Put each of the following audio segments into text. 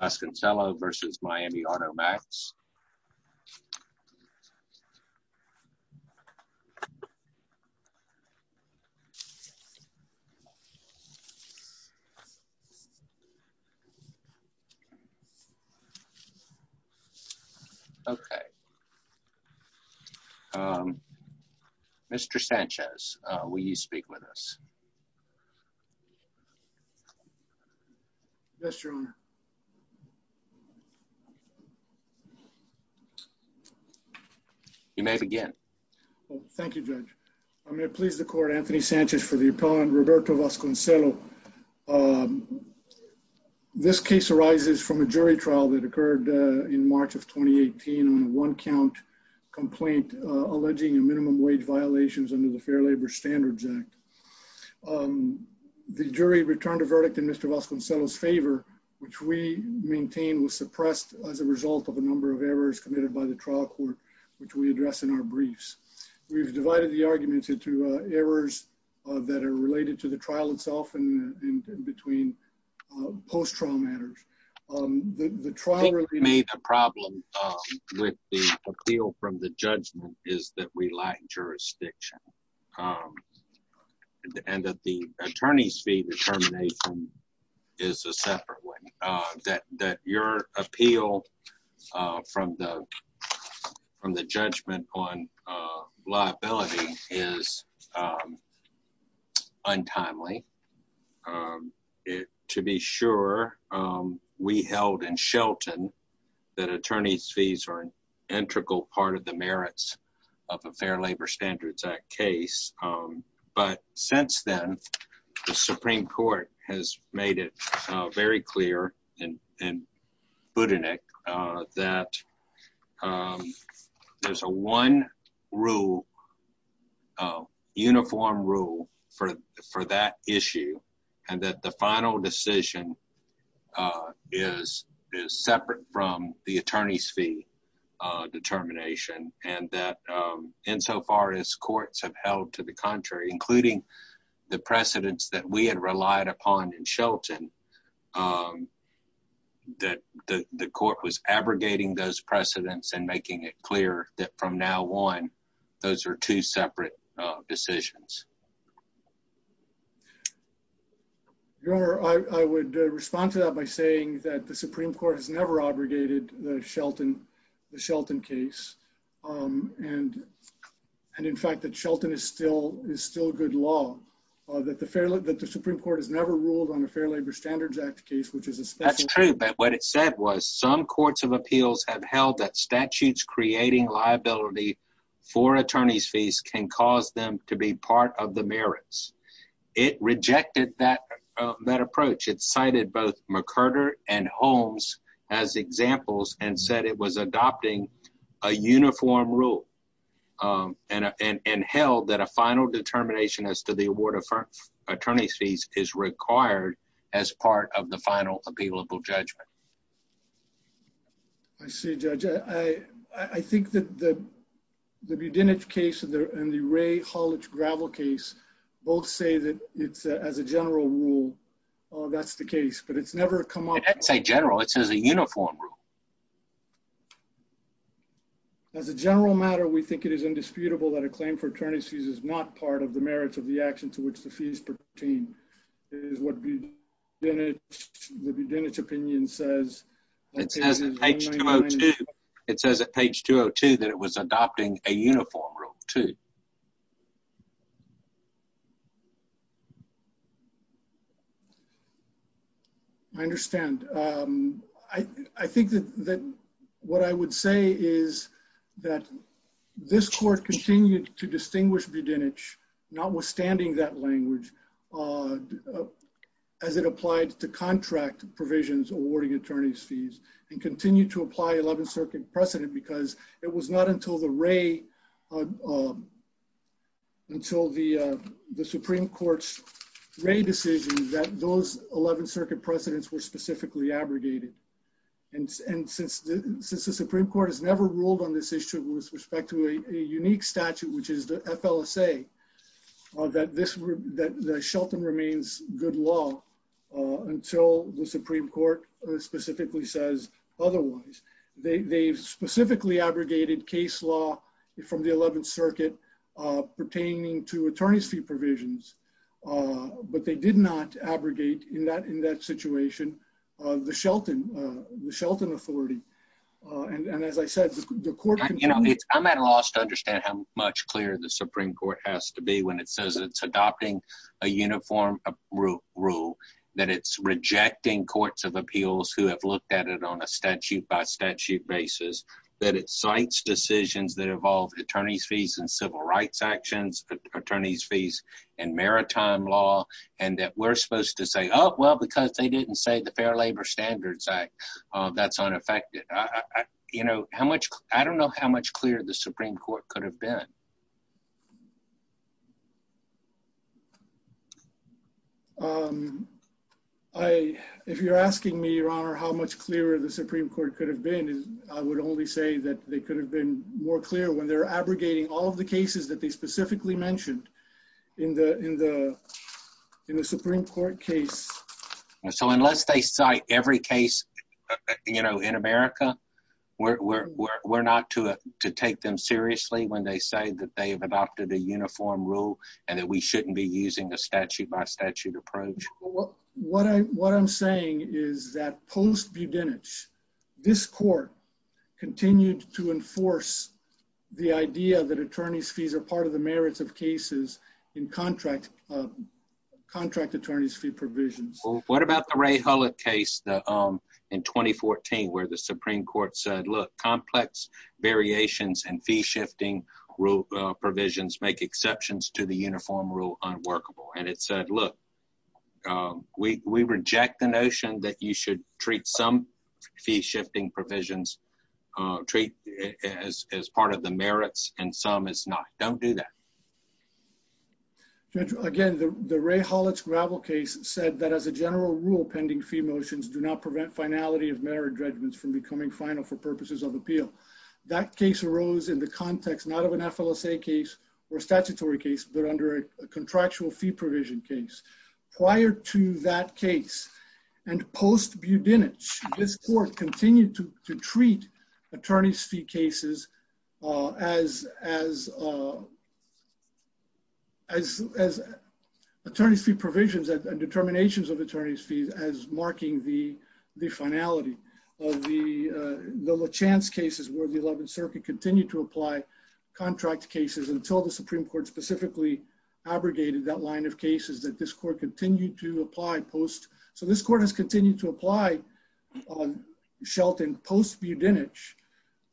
Vasconcelo v. Miami Auto Max. Okay. Mr. Sanchez, will you speak with us? Yes, Your Honor. You may begin. Thank you, Judge. I'm going to please the court, Anthony Sanchez, for the appellant, Roberto Vasconcelo. This case arises from a jury trial that occurred in March of 2018 on a one count complaint alleging a minimum wage violations under the Fair Labor Standards Act. The jury returned a verdict in Mr. Vasconcelo's favor, which we maintain was suppressed as a result of a number of errors committed by the trial court, which we address in our briefs. We've divided the arguments into errors that are related to the trial itself and between post-trial matters. The trial- I think the problem with the appeal from the judgment is that we lack jurisdiction. And that the attorney's fee determination is a separate one. That your appeal from the judgment on liability is untimely. To be sure, we held in Shelton that attorney's fees are an integral part of the merits of a Fair Labor Standards Act case. But since then, the Supreme Court has made it very clear in Budenick that there's a one rule, a uniform rule, for that issue. And that the final decision is separate from the attorney's fee determination. And that insofar as courts have held to the contrary, including the precedents that we had relied upon in Shelton, that the court was abrogating those precedents and making it clear that from now on, those are two separate decisions. Your Honor, I would respond to that by saying that the Supreme Court has never abrogated the Shelton case. And in fact, that Shelton is still good law. That the Supreme Court has never ruled on a Fair Labor Standards Act case, which is a special- That's true. But what it said was some courts of appeals have held that statutes creating liability for attorney's fees can cause them to be part of the merits. It rejected that approach. It cited both McCurder and Holmes as examples and said it was adopting a uniform rule and held that a final determination as to the award of attorney's fees is required as part of the final appealable judgment. I see, Judge. I think that the Budinich case and the Ray-Holich-Gravel case both say that it's as a general rule, that's the case, but it's never come up- It doesn't say general. It says a uniform rule. As a general matter, we think it is indisputable that a claim for attorney's fees is not part of the merits of the action to which the fees pertain, is what the Budinich opinion says. It says on page 202 that it was adopting a uniform rule, too. I understand. I think that what I would say is that this court continued to distinguish Budinich notwithstanding that language as it applied to contract provisions awarding attorney's fees and continued to apply 11th Circuit precedent because it was not until the Supreme Court's Ray decision that those 11th Circuit precedents were specifically abrogated. Since the Supreme Court has never ruled on this issue with respect to a unique statute, which is the FLSA, that Shelton remains good law until the Supreme Court specifically says otherwise. They've specifically abrogated case law from the 11th Circuit pertaining to attorney's fee provisions, but they did not abrogate in that situation the Shelton authority. And as I said, the court— You know, I'm at a loss to understand how much clearer the Supreme Court has to be when it says it's adopting a uniform rule, that it's rejecting courts of appeals who have looked at it on a statute-by-statute basis, that it cites decisions that involve attorney's fees and civil rights actions, attorney's fees and maritime law, and that we're supposed to say, oh, well, because they didn't say the Fair Labor Standards Act, that's unaffected. You know, I don't know how much clearer the Supreme Court could have been. If you're asking me, Your Honor, how much clearer the Supreme Court could have been, I would only say that they could have been more clear when they're abrogating all of the cases that they specifically mentioned in the Supreme Court case. So unless they cite every case, you know, in America, we're not to take them seriously when they say that they have adopted a uniform rule and that we shouldn't be using a statute-by-statute approach. What I'm saying is that post Budenich, this court continued to enforce the idea that attorney's fees are part of the merits of cases in contract attorney's provisions. What about the Ray Hullett case in 2014, where the Supreme Court said, look, complex variations and fee-shifting provisions make exceptions to the uniform rule unworkable, and it said, look, we reject the notion that you should treat some fee-shifting provisions, treat as part of the merits and some as not. Don't do that. Judge, again, the Ray Hullett's gravel case said that as a general rule, pending fee motions do not prevent finality of merit judgments from becoming final for purposes of appeal. That case arose in the context not of an FLSA case or statutory case, but under a contractual fee provision case. Prior to that case and post Budenich, this court continued to treat attorney's fee cases as attorney's fee provisions and determinations of attorney's fees as marking the finality of the La Chance cases, where the 11th Circuit continued to apply contract cases until the Supreme Court specifically abrogated that line of cases that this court continued to apply post. So this court has continued to apply on Shelton post Budenich,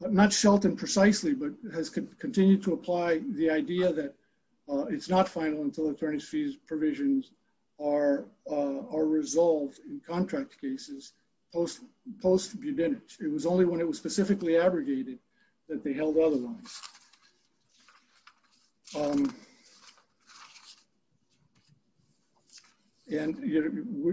but not Shelton precisely, but has continued to apply the idea that it's not final until attorney's fees provisions are resolved in contract cases post Budenich. It was only when it was specifically abrogated that they held other lines. And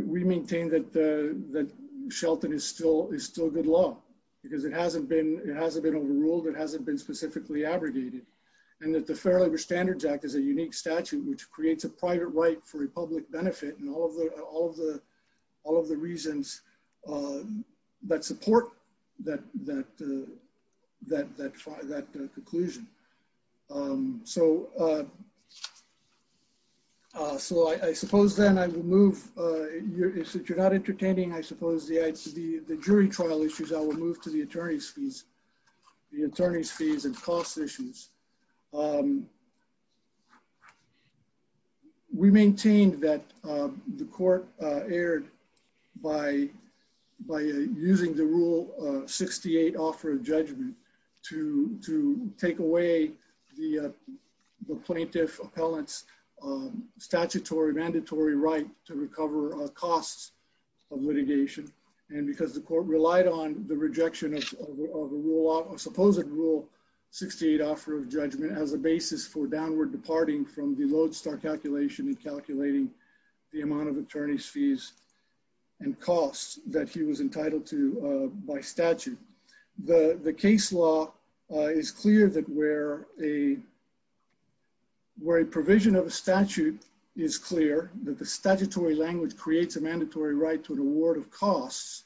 we maintain that Shelton is still a good law because it hasn't been overruled, it hasn't been specifically abrogated, and that the Fair Labor Standards Act is a unique statute which creates a private right for a public benefit and all of the reasons that support that conclusion. So I suppose then I will move, since you're not entertaining, I suppose the jury trial issues, I will move to the attorney's fees and cost issues. We maintained that the court erred by using the Rule 68 offer of judgment to take away the plaintiff appellant's statutory mandatory right to recover costs of litigation, and because the court relied on the rejection of a supposed Rule 68 offer of judgment as a basis for downward departing from the Lodestar calculation and calculating the amount of attorney's fees and costs that he was entitled to by statute. The case law is clear that where a provision of a statute is clear, that the statutory language creates a mandatory right to an award of costs,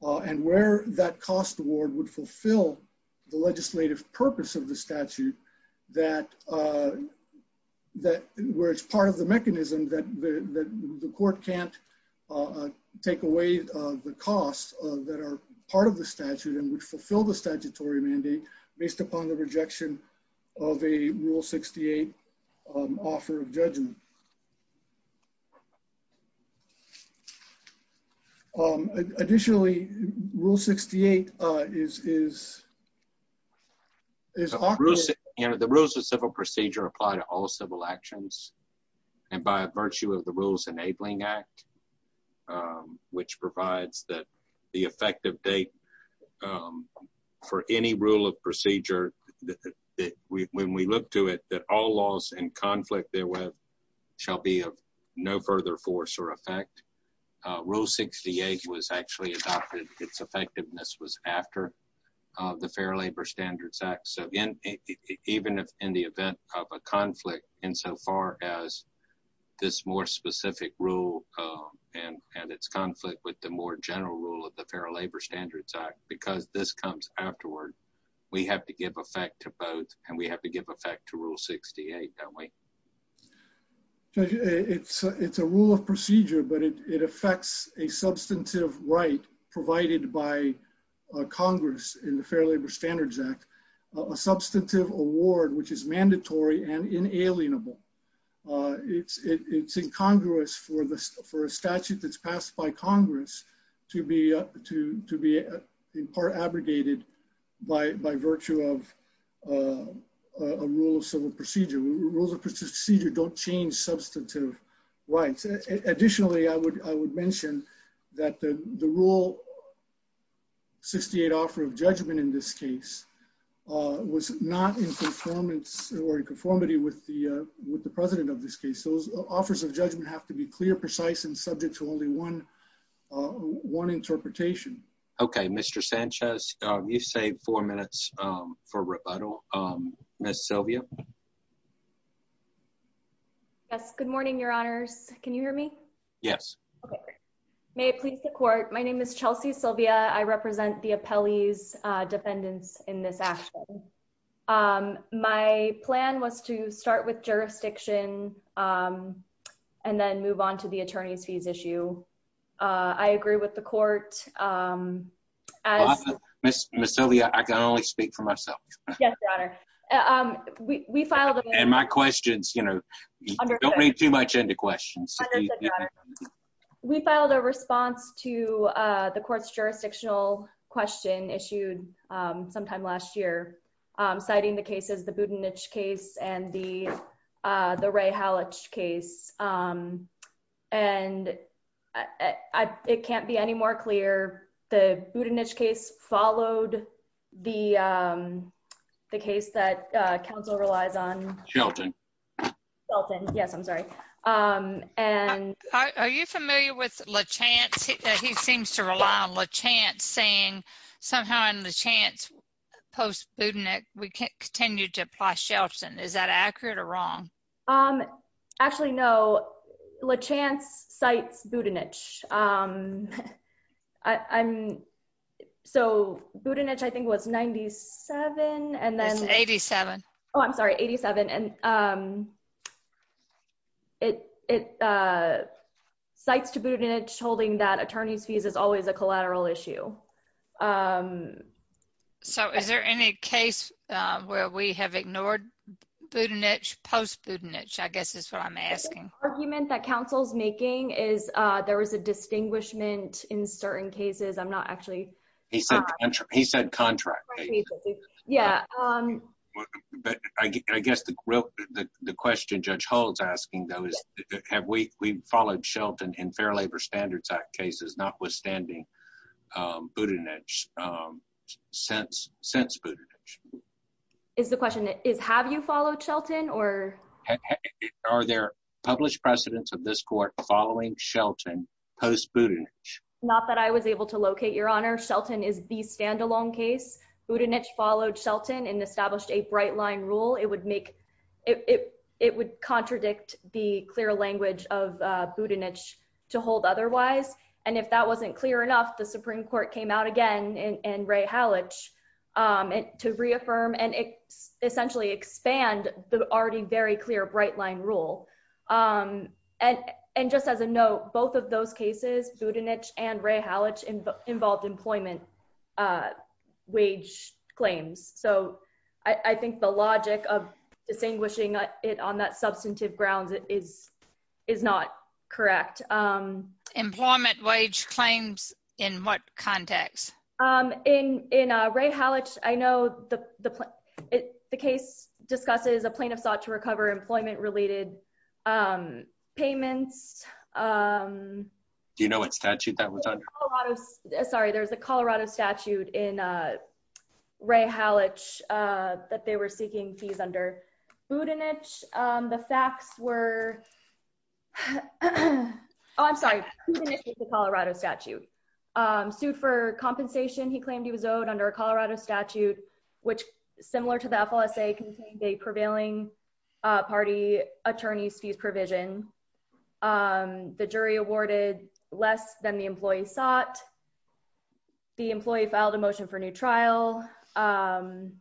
and where that cost award would fulfill the legislative purpose of the statute, that where it's part of the mechanism that the court can't take away the costs that are part of the statute and would fulfill the statutory mandate based upon the rejection of a Rule 68 offer of judgment. Additionally, Rule 68 is... The rules of civil procedure apply to all civil actions, and by virtue of the Rules Enabling Act, which provides that the effective date for any rule of procedure, when we look to it, that all laws in conflict therewith shall be of no further force or effect. Rule 68 was actually adopted, its effectiveness was after the Fair Labor Standards Act, so even in the event of a conflict insofar as this more specific rule and its conflict with the more general rule of the Fair Labor Standards Act, because this comes afterward, we have to give effect to both, and we have to give effect to Rule 68, don't we? It's a rule of procedure, but it affects a substantive right provided by Congress in the Fair Labor Standards Act, a substantive award which is mandatory and inalienable. It's incongruous for a statute that's passed by Congress to be in part abrogated by virtue of a rule of civil procedure. Rules of procedure don't change substantive rights. Additionally, I would mention that the Rule 68 offer of judgment in this case was not in conformance or conformity with the President of this case. Those offers of judgment have to be clear, precise, and subject to only one interpretation. Okay, Mr. Sanchez, you saved four minutes for rebuttal. Ms. Silvia? Yes, good morning, Your Honors. Can you hear me? Yes. Okay. May it please the Court, my name is Chelsea Silvia. I represent the Appellee's Defendants in this action. My plan was to start with jurisdiction and then move on to the attorney's fees issue. I agree with the Court. Ms. Silvia, I can only speak for myself. Yes, Your Honor. We filed a response to the Court's jurisdictional question issued sometime last year, citing the cases, the Budenich case and the Ray Hallich case. It can't be any more clear. The Budenich case followed the case that counsel relies on. Shelton. Shelton, yes, I'm sorry. Are you familiar with Lachance? He seems to rely on Lachance saying somehow in Lachance post-Budenich, we can't continue to apply Shelton. Is that accurate or wrong? Um, actually, no. Lachance cites Budenich. So Budenich, I think, was 97 and then 87. Oh, I'm sorry, 87. And it cites to Budenich holding that attorney's fees is always a collateral issue. Um, so is there any case where we have ignored Budenich post-Budenich? I guess that's what I'm asking. The argument that counsel's making is, uh, there was a distinguishment in certain cases. I'm not actually. He said contract. He said contract. Yeah. Um, but I guess the question Judge Hull's asking, though, is have we followed Shelton in Fair Labor Standards Act cases, notwithstanding, um, Budenich, um, since Budenich? Is the question is have you followed Shelton or? Are there published precedents of this court following Shelton post-Budenich? Not that I was able to locate, Your Honor. Shelton is the standalone case. Budenich followed Shelton and established a bright line rule. It would make, it would contradict the clear language of, uh, Budenich to hold otherwise. And if that wasn't clear enough, the Supreme Court came out again and Ray Hallich, um, to reaffirm and essentially expand the already very clear bright line rule. Um, and, and just as a note, both of those cases, Budenich and Ray Hallich involved employment, uh, wage claims. So I think the logic of distinguishing it on that substantive grounds is, is not correct. Um, employment wage claims in what context? Um, in, in, uh, Ray Hallich, I know the, the, it, the case discusses a plaintiff sought to recover employment related, um, payments. Um, do you know what statute that was under? Sorry, there's a Colorado statute in, Ray Hallich, uh, that they were seeking fees under Budenich. Um, the facts were, oh, I'm sorry, Colorado statute, um, sued for compensation. He claimed he was owed under a Colorado statute, which similar to the FLSA contained a prevailing, uh, party attorney's fees provision. Um, the jury awarded less than the employee sought. The employee filed a motion for new trial, um,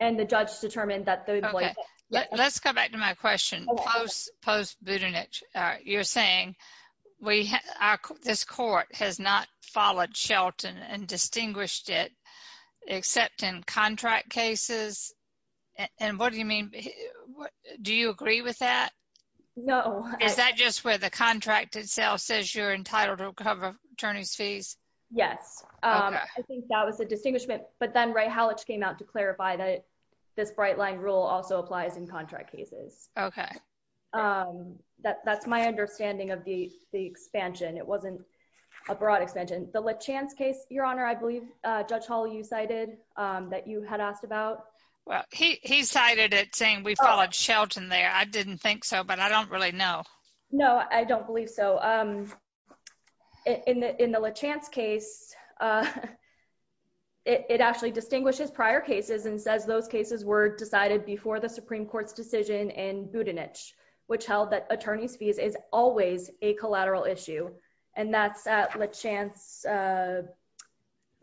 and the judge determined that the employee- Okay, let's go back to my question. Post, post Budenich, uh, you're saying we, our, this court has not followed Shelton and distinguished it except in contract cases. And what do you mean? Do you agree with that? No. Is that just where the contract itself says you're entitled to cover attorney's fees? Yes. Um, I think that was a distinguishment, but then Ray Hallich came out to clarify that this bright line rule also applies in contract cases. Okay. Um, that, that's my understanding of the, the expansion. It wasn't a broad expansion. The Lachance case, Your Honor, I believe, uh, Judge Hall, you cited, um, that you had asked about. Well, he, he cited it saying we followed Shelton there. I didn't think so, but I don't really know. No, I don't believe so. Um, in the, in the Lachance case, uh, it, it actually distinguishes prior cases and says those cases were decided before the Supreme Court's decision in Budenich, which held that attorney's fees is always a collateral issue. And that's, uh, Lachance, uh-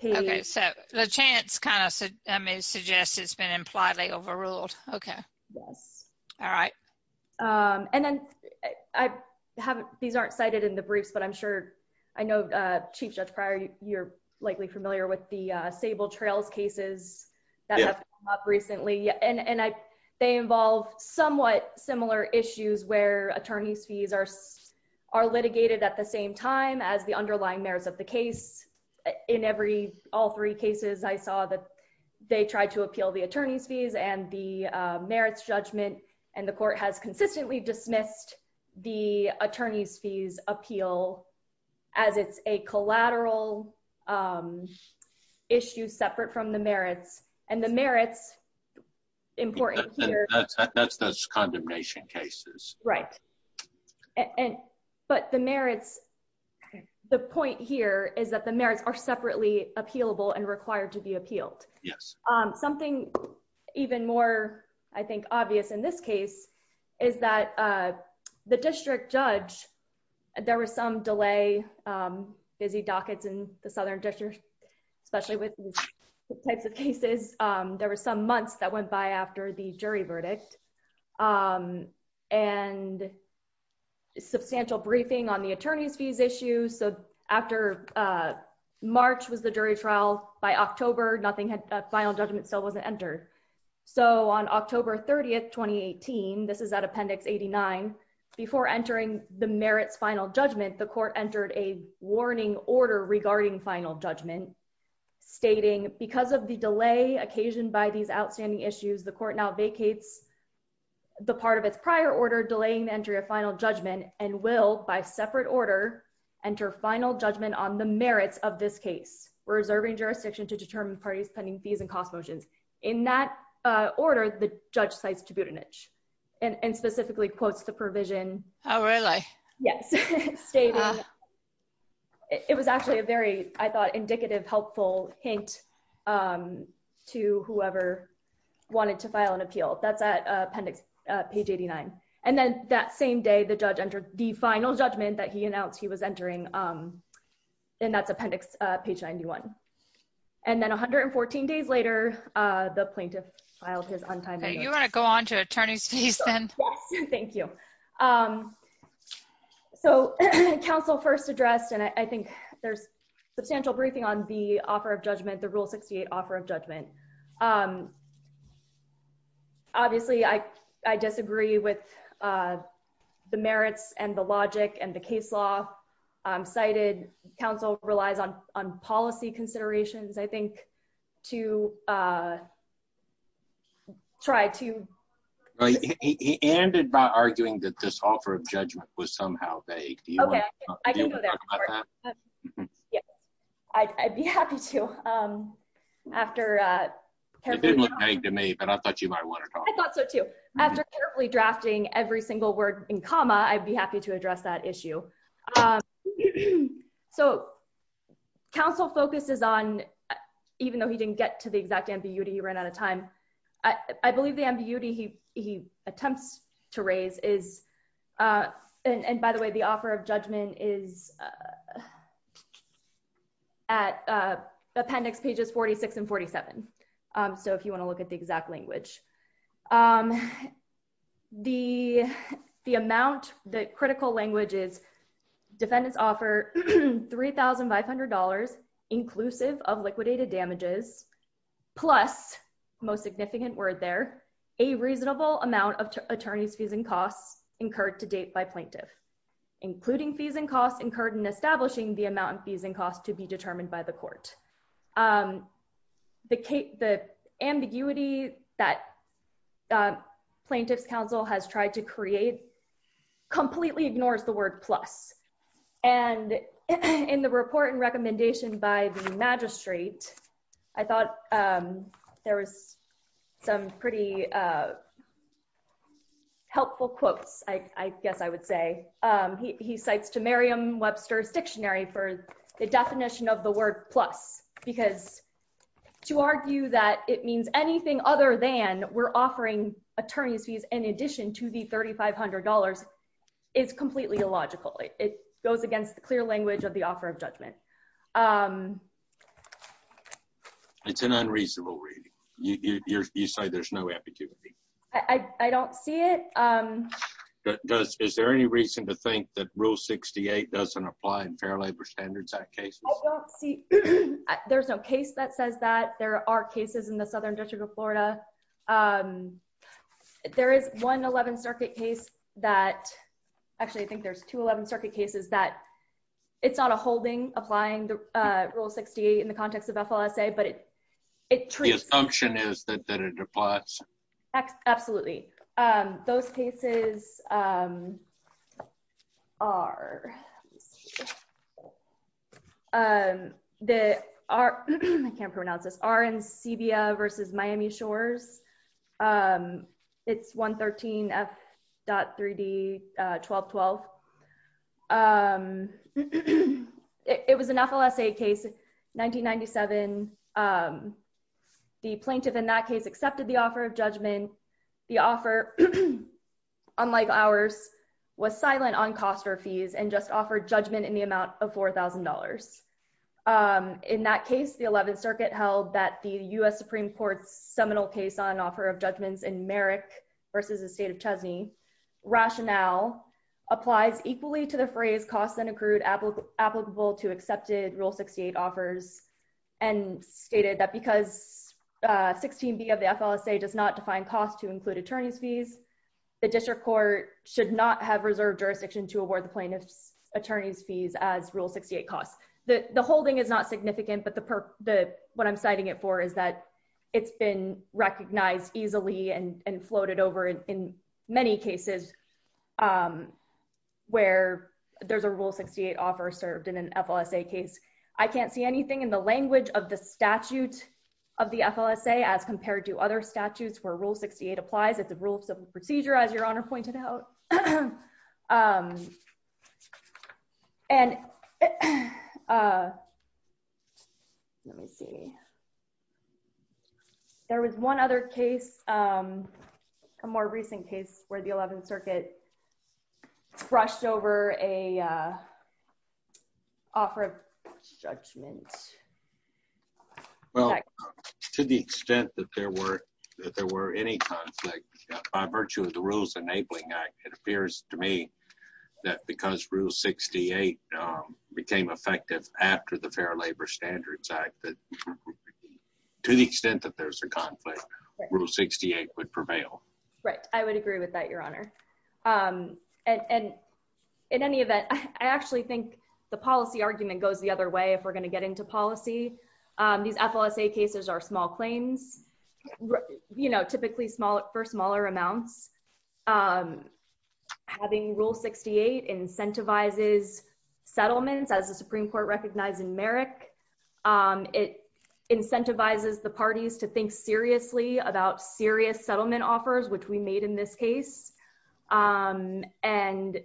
Okay, so Lachance kind of, I mean, suggests it's been impliedly overruled. Okay. Yes. All right. Um, and then I haven't, these aren't cited in the briefs, but I'm sure, I know, uh, Chief Judge Pryor, you're likely familiar with the, uh, Sable Trails cases that have come up recently. And, and I, they involve somewhat similar issues where attorney's fees are, are litigated at the same time as the underlying merits of the case. In every, all three cases, I saw that they tried to appeal the attorney's fees and the, uh, merits judgment, and the court has consistently dismissed the attorney's fees appeal as it's a collateral, um, issue separate from the merits. And the merits important here- That's, that's, that's, that's condemnation cases. Right. And, but the merits, the point here is that the merits are appealable and required to be appealed. Yes. Um, something even more, I think, obvious in this case is that, uh, the district judge, there was some delay, um, busy dockets in the Southern District, especially with these types of cases. Um, there were some months that went by after the jury verdict, um, and substantial briefing on the attorney's fees issue. So after, uh, March was the jury trial, by October, nothing had, uh, final judgment still wasn't entered. So on October 30th, 2018, this is at appendix 89, before entering the merits final judgment, the court entered a warning order regarding final judgment stating because of the delay occasioned by these outstanding issues, the court now vacates the part of its prior order, delaying the entry of final judgment and will, by separate order, enter final judgment on the merits of this case, reserving jurisdiction to determine parties pending fees and cost motions. In that, uh, order, the judge cites Duboutinich and, and specifically quotes the provision. Oh, really? Yes. Stating, it was actually a very, I thought, indicative, helpful hint, um, to whoever wanted to file an the final judgment that he announced he was entering, um, and that's appendix, uh, page 91. And then 114 days later, uh, the plaintiff filed his untimely. You want to go on to attorney's fees then? Thank you. Um, so council first addressed, and I think there's substantial briefing on the offer of judgment, the rule 68 offer of judgment. Um, obviously I, I disagree with, uh, the merits and the logic and the case law, um, cited council relies on, on policy considerations, I think, to, uh, try to. He ended by arguing that this offer of judgment was somehow vague. I'd be happy to, um, after, uh, it didn't look vague to me, but I thought you might want to after carefully drafting every single word in comma, I'd be happy to address that issue. Um, so council focuses on, even though he didn't get to the exact ambiguity, he ran out of time. I believe the ambiguity he, he attempts to raise is, uh, and, and by the way, the offer of judgment is, uh, at, uh, appendix pages 46 and 47. Um, so if you want to look at the exact language, um, the, the amount that critical language is defendants offer $3,500 inclusive of liquidated damages, plus most significant word. There a reasonable amount of attorneys fees and costs incurred to date by plaintiff, including fees and costs incurred in establishing the amount of fees and costs to be determined by the court. Um, the Kate, the ambiguity that, uh, plaintiff's council has tried to create completely ignores the word plus, and in the report and recommendation by the magistrate, I thought, um, there was some pretty, uh, helpful quotes. I guess I would say, um, he, he cites to Merriam Webster's dictionary for the definition of the word plus, because to argue that it means anything other than we're offering attorneys fees in addition to the $3,500 is completely illogical. It goes against the clear language of the offer of judgment. Um, it's an unreasonable reading. You, you, you're, you say there's no ambiguity. I, I, I don't see it. Um, does, is there any reason to think that rule 68 doesn't apply in Fair Labor Standards Act cases? I don't see, there's no case that says that there are cases in the Southern District of Florida. Um, there is one 11 circuit case that actually, I think there's two 11 circuit cases that it's not a holding applying the, uh, rule 68 in the context of FLSA, but it, it. The assumption is that, that it applies. Absolutely. Um, those cases, um, are, um, the, are, I can't pronounce this, are in the, it was an FLSA case, 1997. Um, the plaintiff in that case accepted the offer of judgment. The offer, unlike ours was silent on cost or fees and just offered judgment in the amount of $4,000. Um, in that case, the 11th circuit held that the U S Supreme Court's seminal case on offer of judgments in Merrick versus the state of Chesney rationale applies equally to the phrase costs and accrued applicable to accepted rule 68 offers. And stated that because, uh, 16 B of the FLSA does not define costs to include attorney's fees. The district court should not have reserved jurisdiction to award the plaintiff's attorney's fees as rule 68 costs. The holding is not significant, but the, the, what I'm citing it for is that it's been recognized easily and floated over in many cases, um, where there's a rule 68 offer served in an FLSA case. I can't see anything in the language of the statute of the FLSA as compared to other statutes where rule 68 applies at the rule of civil procedure, as your honor pointed out. Um, and, uh, let me see. There was one other case, um, a more recent case where the 11th circuit brushed over a, uh, offer of judgment. Well, to the extent that there were, that there were any conflict by virtue of the rules enabling act, it appears to me that because rule 68, um, became effective after the fair labor standards act that to the extent that there's a conflict rule 68 would prevail. Right. I would agree with that, your honor. Um, and, and in any event, I actually think the policy argument goes the other way. If we're going to get into policy, um, these FLSA cases are small claims, you know, typically small for smaller amounts. Um, having rule 68 incentivizes settlements as the Supreme court recognized in Merrick. Um, it incentivizes the parties to think seriously about serious settlement offers, which we made in this case. Um, and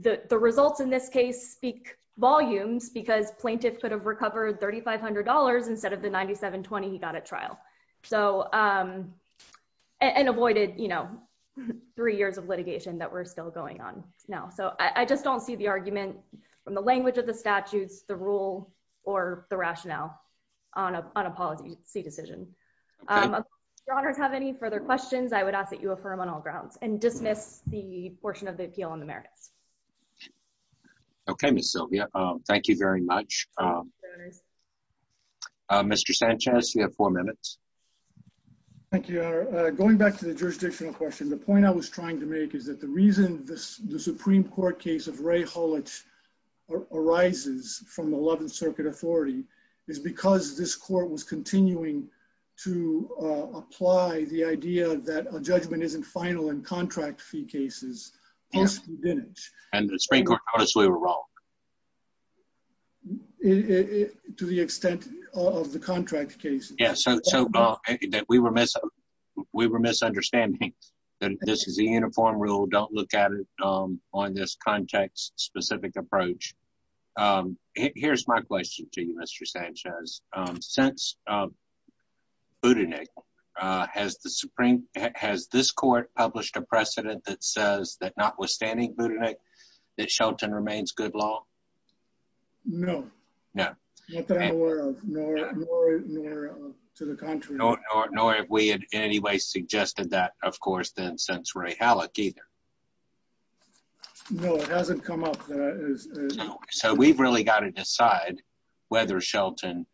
the, the results in this case speak volumes because plaintiff could have recovered $3,500 instead of the 97 20, he got a trial. So, um, and avoided, you know, three years of litigation that we're still going on now. So I just don't see the argument from the language of the statutes, the rule, or the rationale on a, on a policy decision. Um, your honors have any further questions I would ask that you affirm on all grounds and dismiss the portion of the appeal on the merits. Okay. Ms. Sylvia. Um, thank you very much. Um, Mr. Sanchez, you have four minutes. Thank you. Uh, going back to the jurisdictional question, the point I was trying to make is that the reason this, the Supreme court case of Ray Hall, which arises from 11th circuit authority is because this court was continuing to, uh, apply the idea that a judgment isn't final and contract fee cases and the spring court honestly were wrong to the extent of the contract case. So we were missing, we were misunderstanding that this is a uniform rule. Don't look at it. Um, on this context specific approach. Um, here's my question to you, Mr. Sanchez, um, since, um, Buddha, Nick, uh, has the Supreme, has this court published a precedent that says that not to the country, nor have we in any way suggested that of course, then since Ray Hallock either, no, it hasn't come up. So we've really got to decide whether Shelton,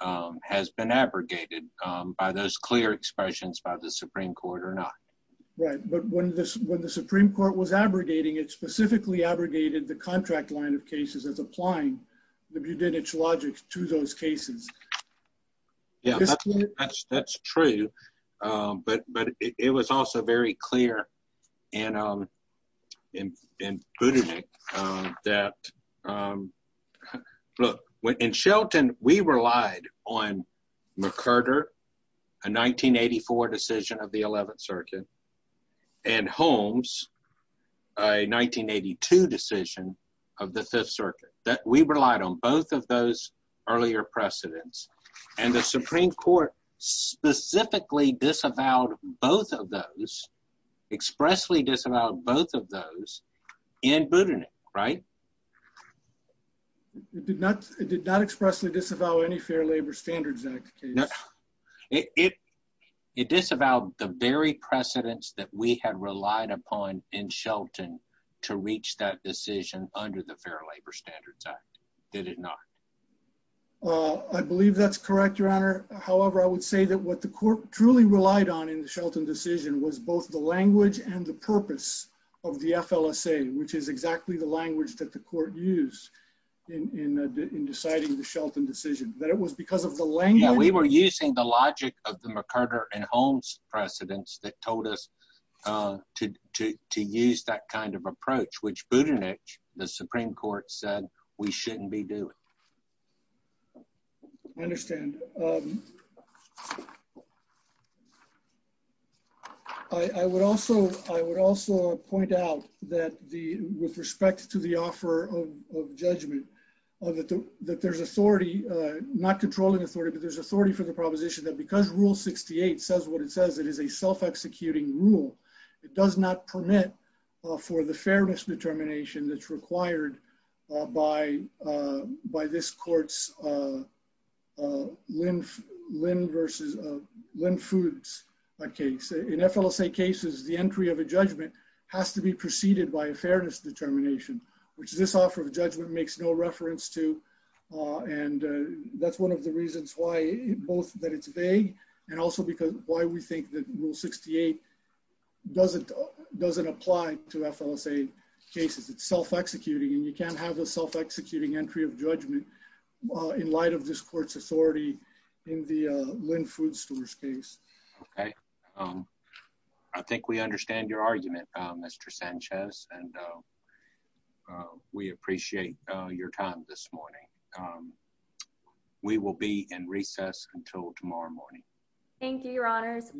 um, has been abrogated, um, by those clear expressions by the Supreme court or not. Right. But when this, when the Supreme court was abrogating, it specifically abrogated the contract line of cases as applying the Budenich logic to those cases. Yeah, that's true. Um, but, but it was also very clear in, um, in, in Buddha, Nick, um, that, um, look when in Shelton, we relied on McCurder, a 1984 decision of the 11th circuit and Holmes, uh, 1982 decision of the fifth circuit that we relied on both of those earlier precedents and the Supreme court specifically disavowed both of those expressly disavowed both of those in Buddha, Nick, right. It did not, it did not expressly disavow any fair labor standards. It disavowed the very precedents that we had relied upon in Shelton to reach that decision under the fair labor standards act. Did it not? Uh, I believe that's correct, your honor. However, I would say that what the court truly relied on in the Shelton decision was both the language and the purpose of the FLSA, which is exactly the language that the court used in, in, uh, in deciding the Shelton decision that it was because of the lane. We were using the logic of the McCurder and Holmes precedents that told us, uh, to, to, to use that kind of approach, which Buddha niche, the Supreme court said we shouldn't be doing. I understand. Um, I, I would also, I would also point out that the, with respect to the offer of, of judgment of that, that there's authority, uh, not controlling authority, but there's authority for the proposition that because rule 68 says what it says, it is a self-executing rule. It does not permit, uh, for the fairness determination that's required, uh, by, uh, by this court's, uh, uh, Lynn versus, uh, Lynn foods. Okay. So in FLSA cases, the entry of a judgment has to be preceded by a fairness determination, which this offer of judgment makes no reference to. Uh, and, uh, that's one of the reasons why both that it's vague and also because why we think that rule 68 doesn't, doesn't apply to FLSA cases. It's self-executing and you can't have a self-executing entry of judgment in light of this court's authority in the, uh, Lynn food stores case. Okay. Um, I think we understand your argument, Mr. Sanchez, and, uh, uh, we appreciate your time this morning. Um, we will be in recess until tomorrow morning. Thank you, your honors.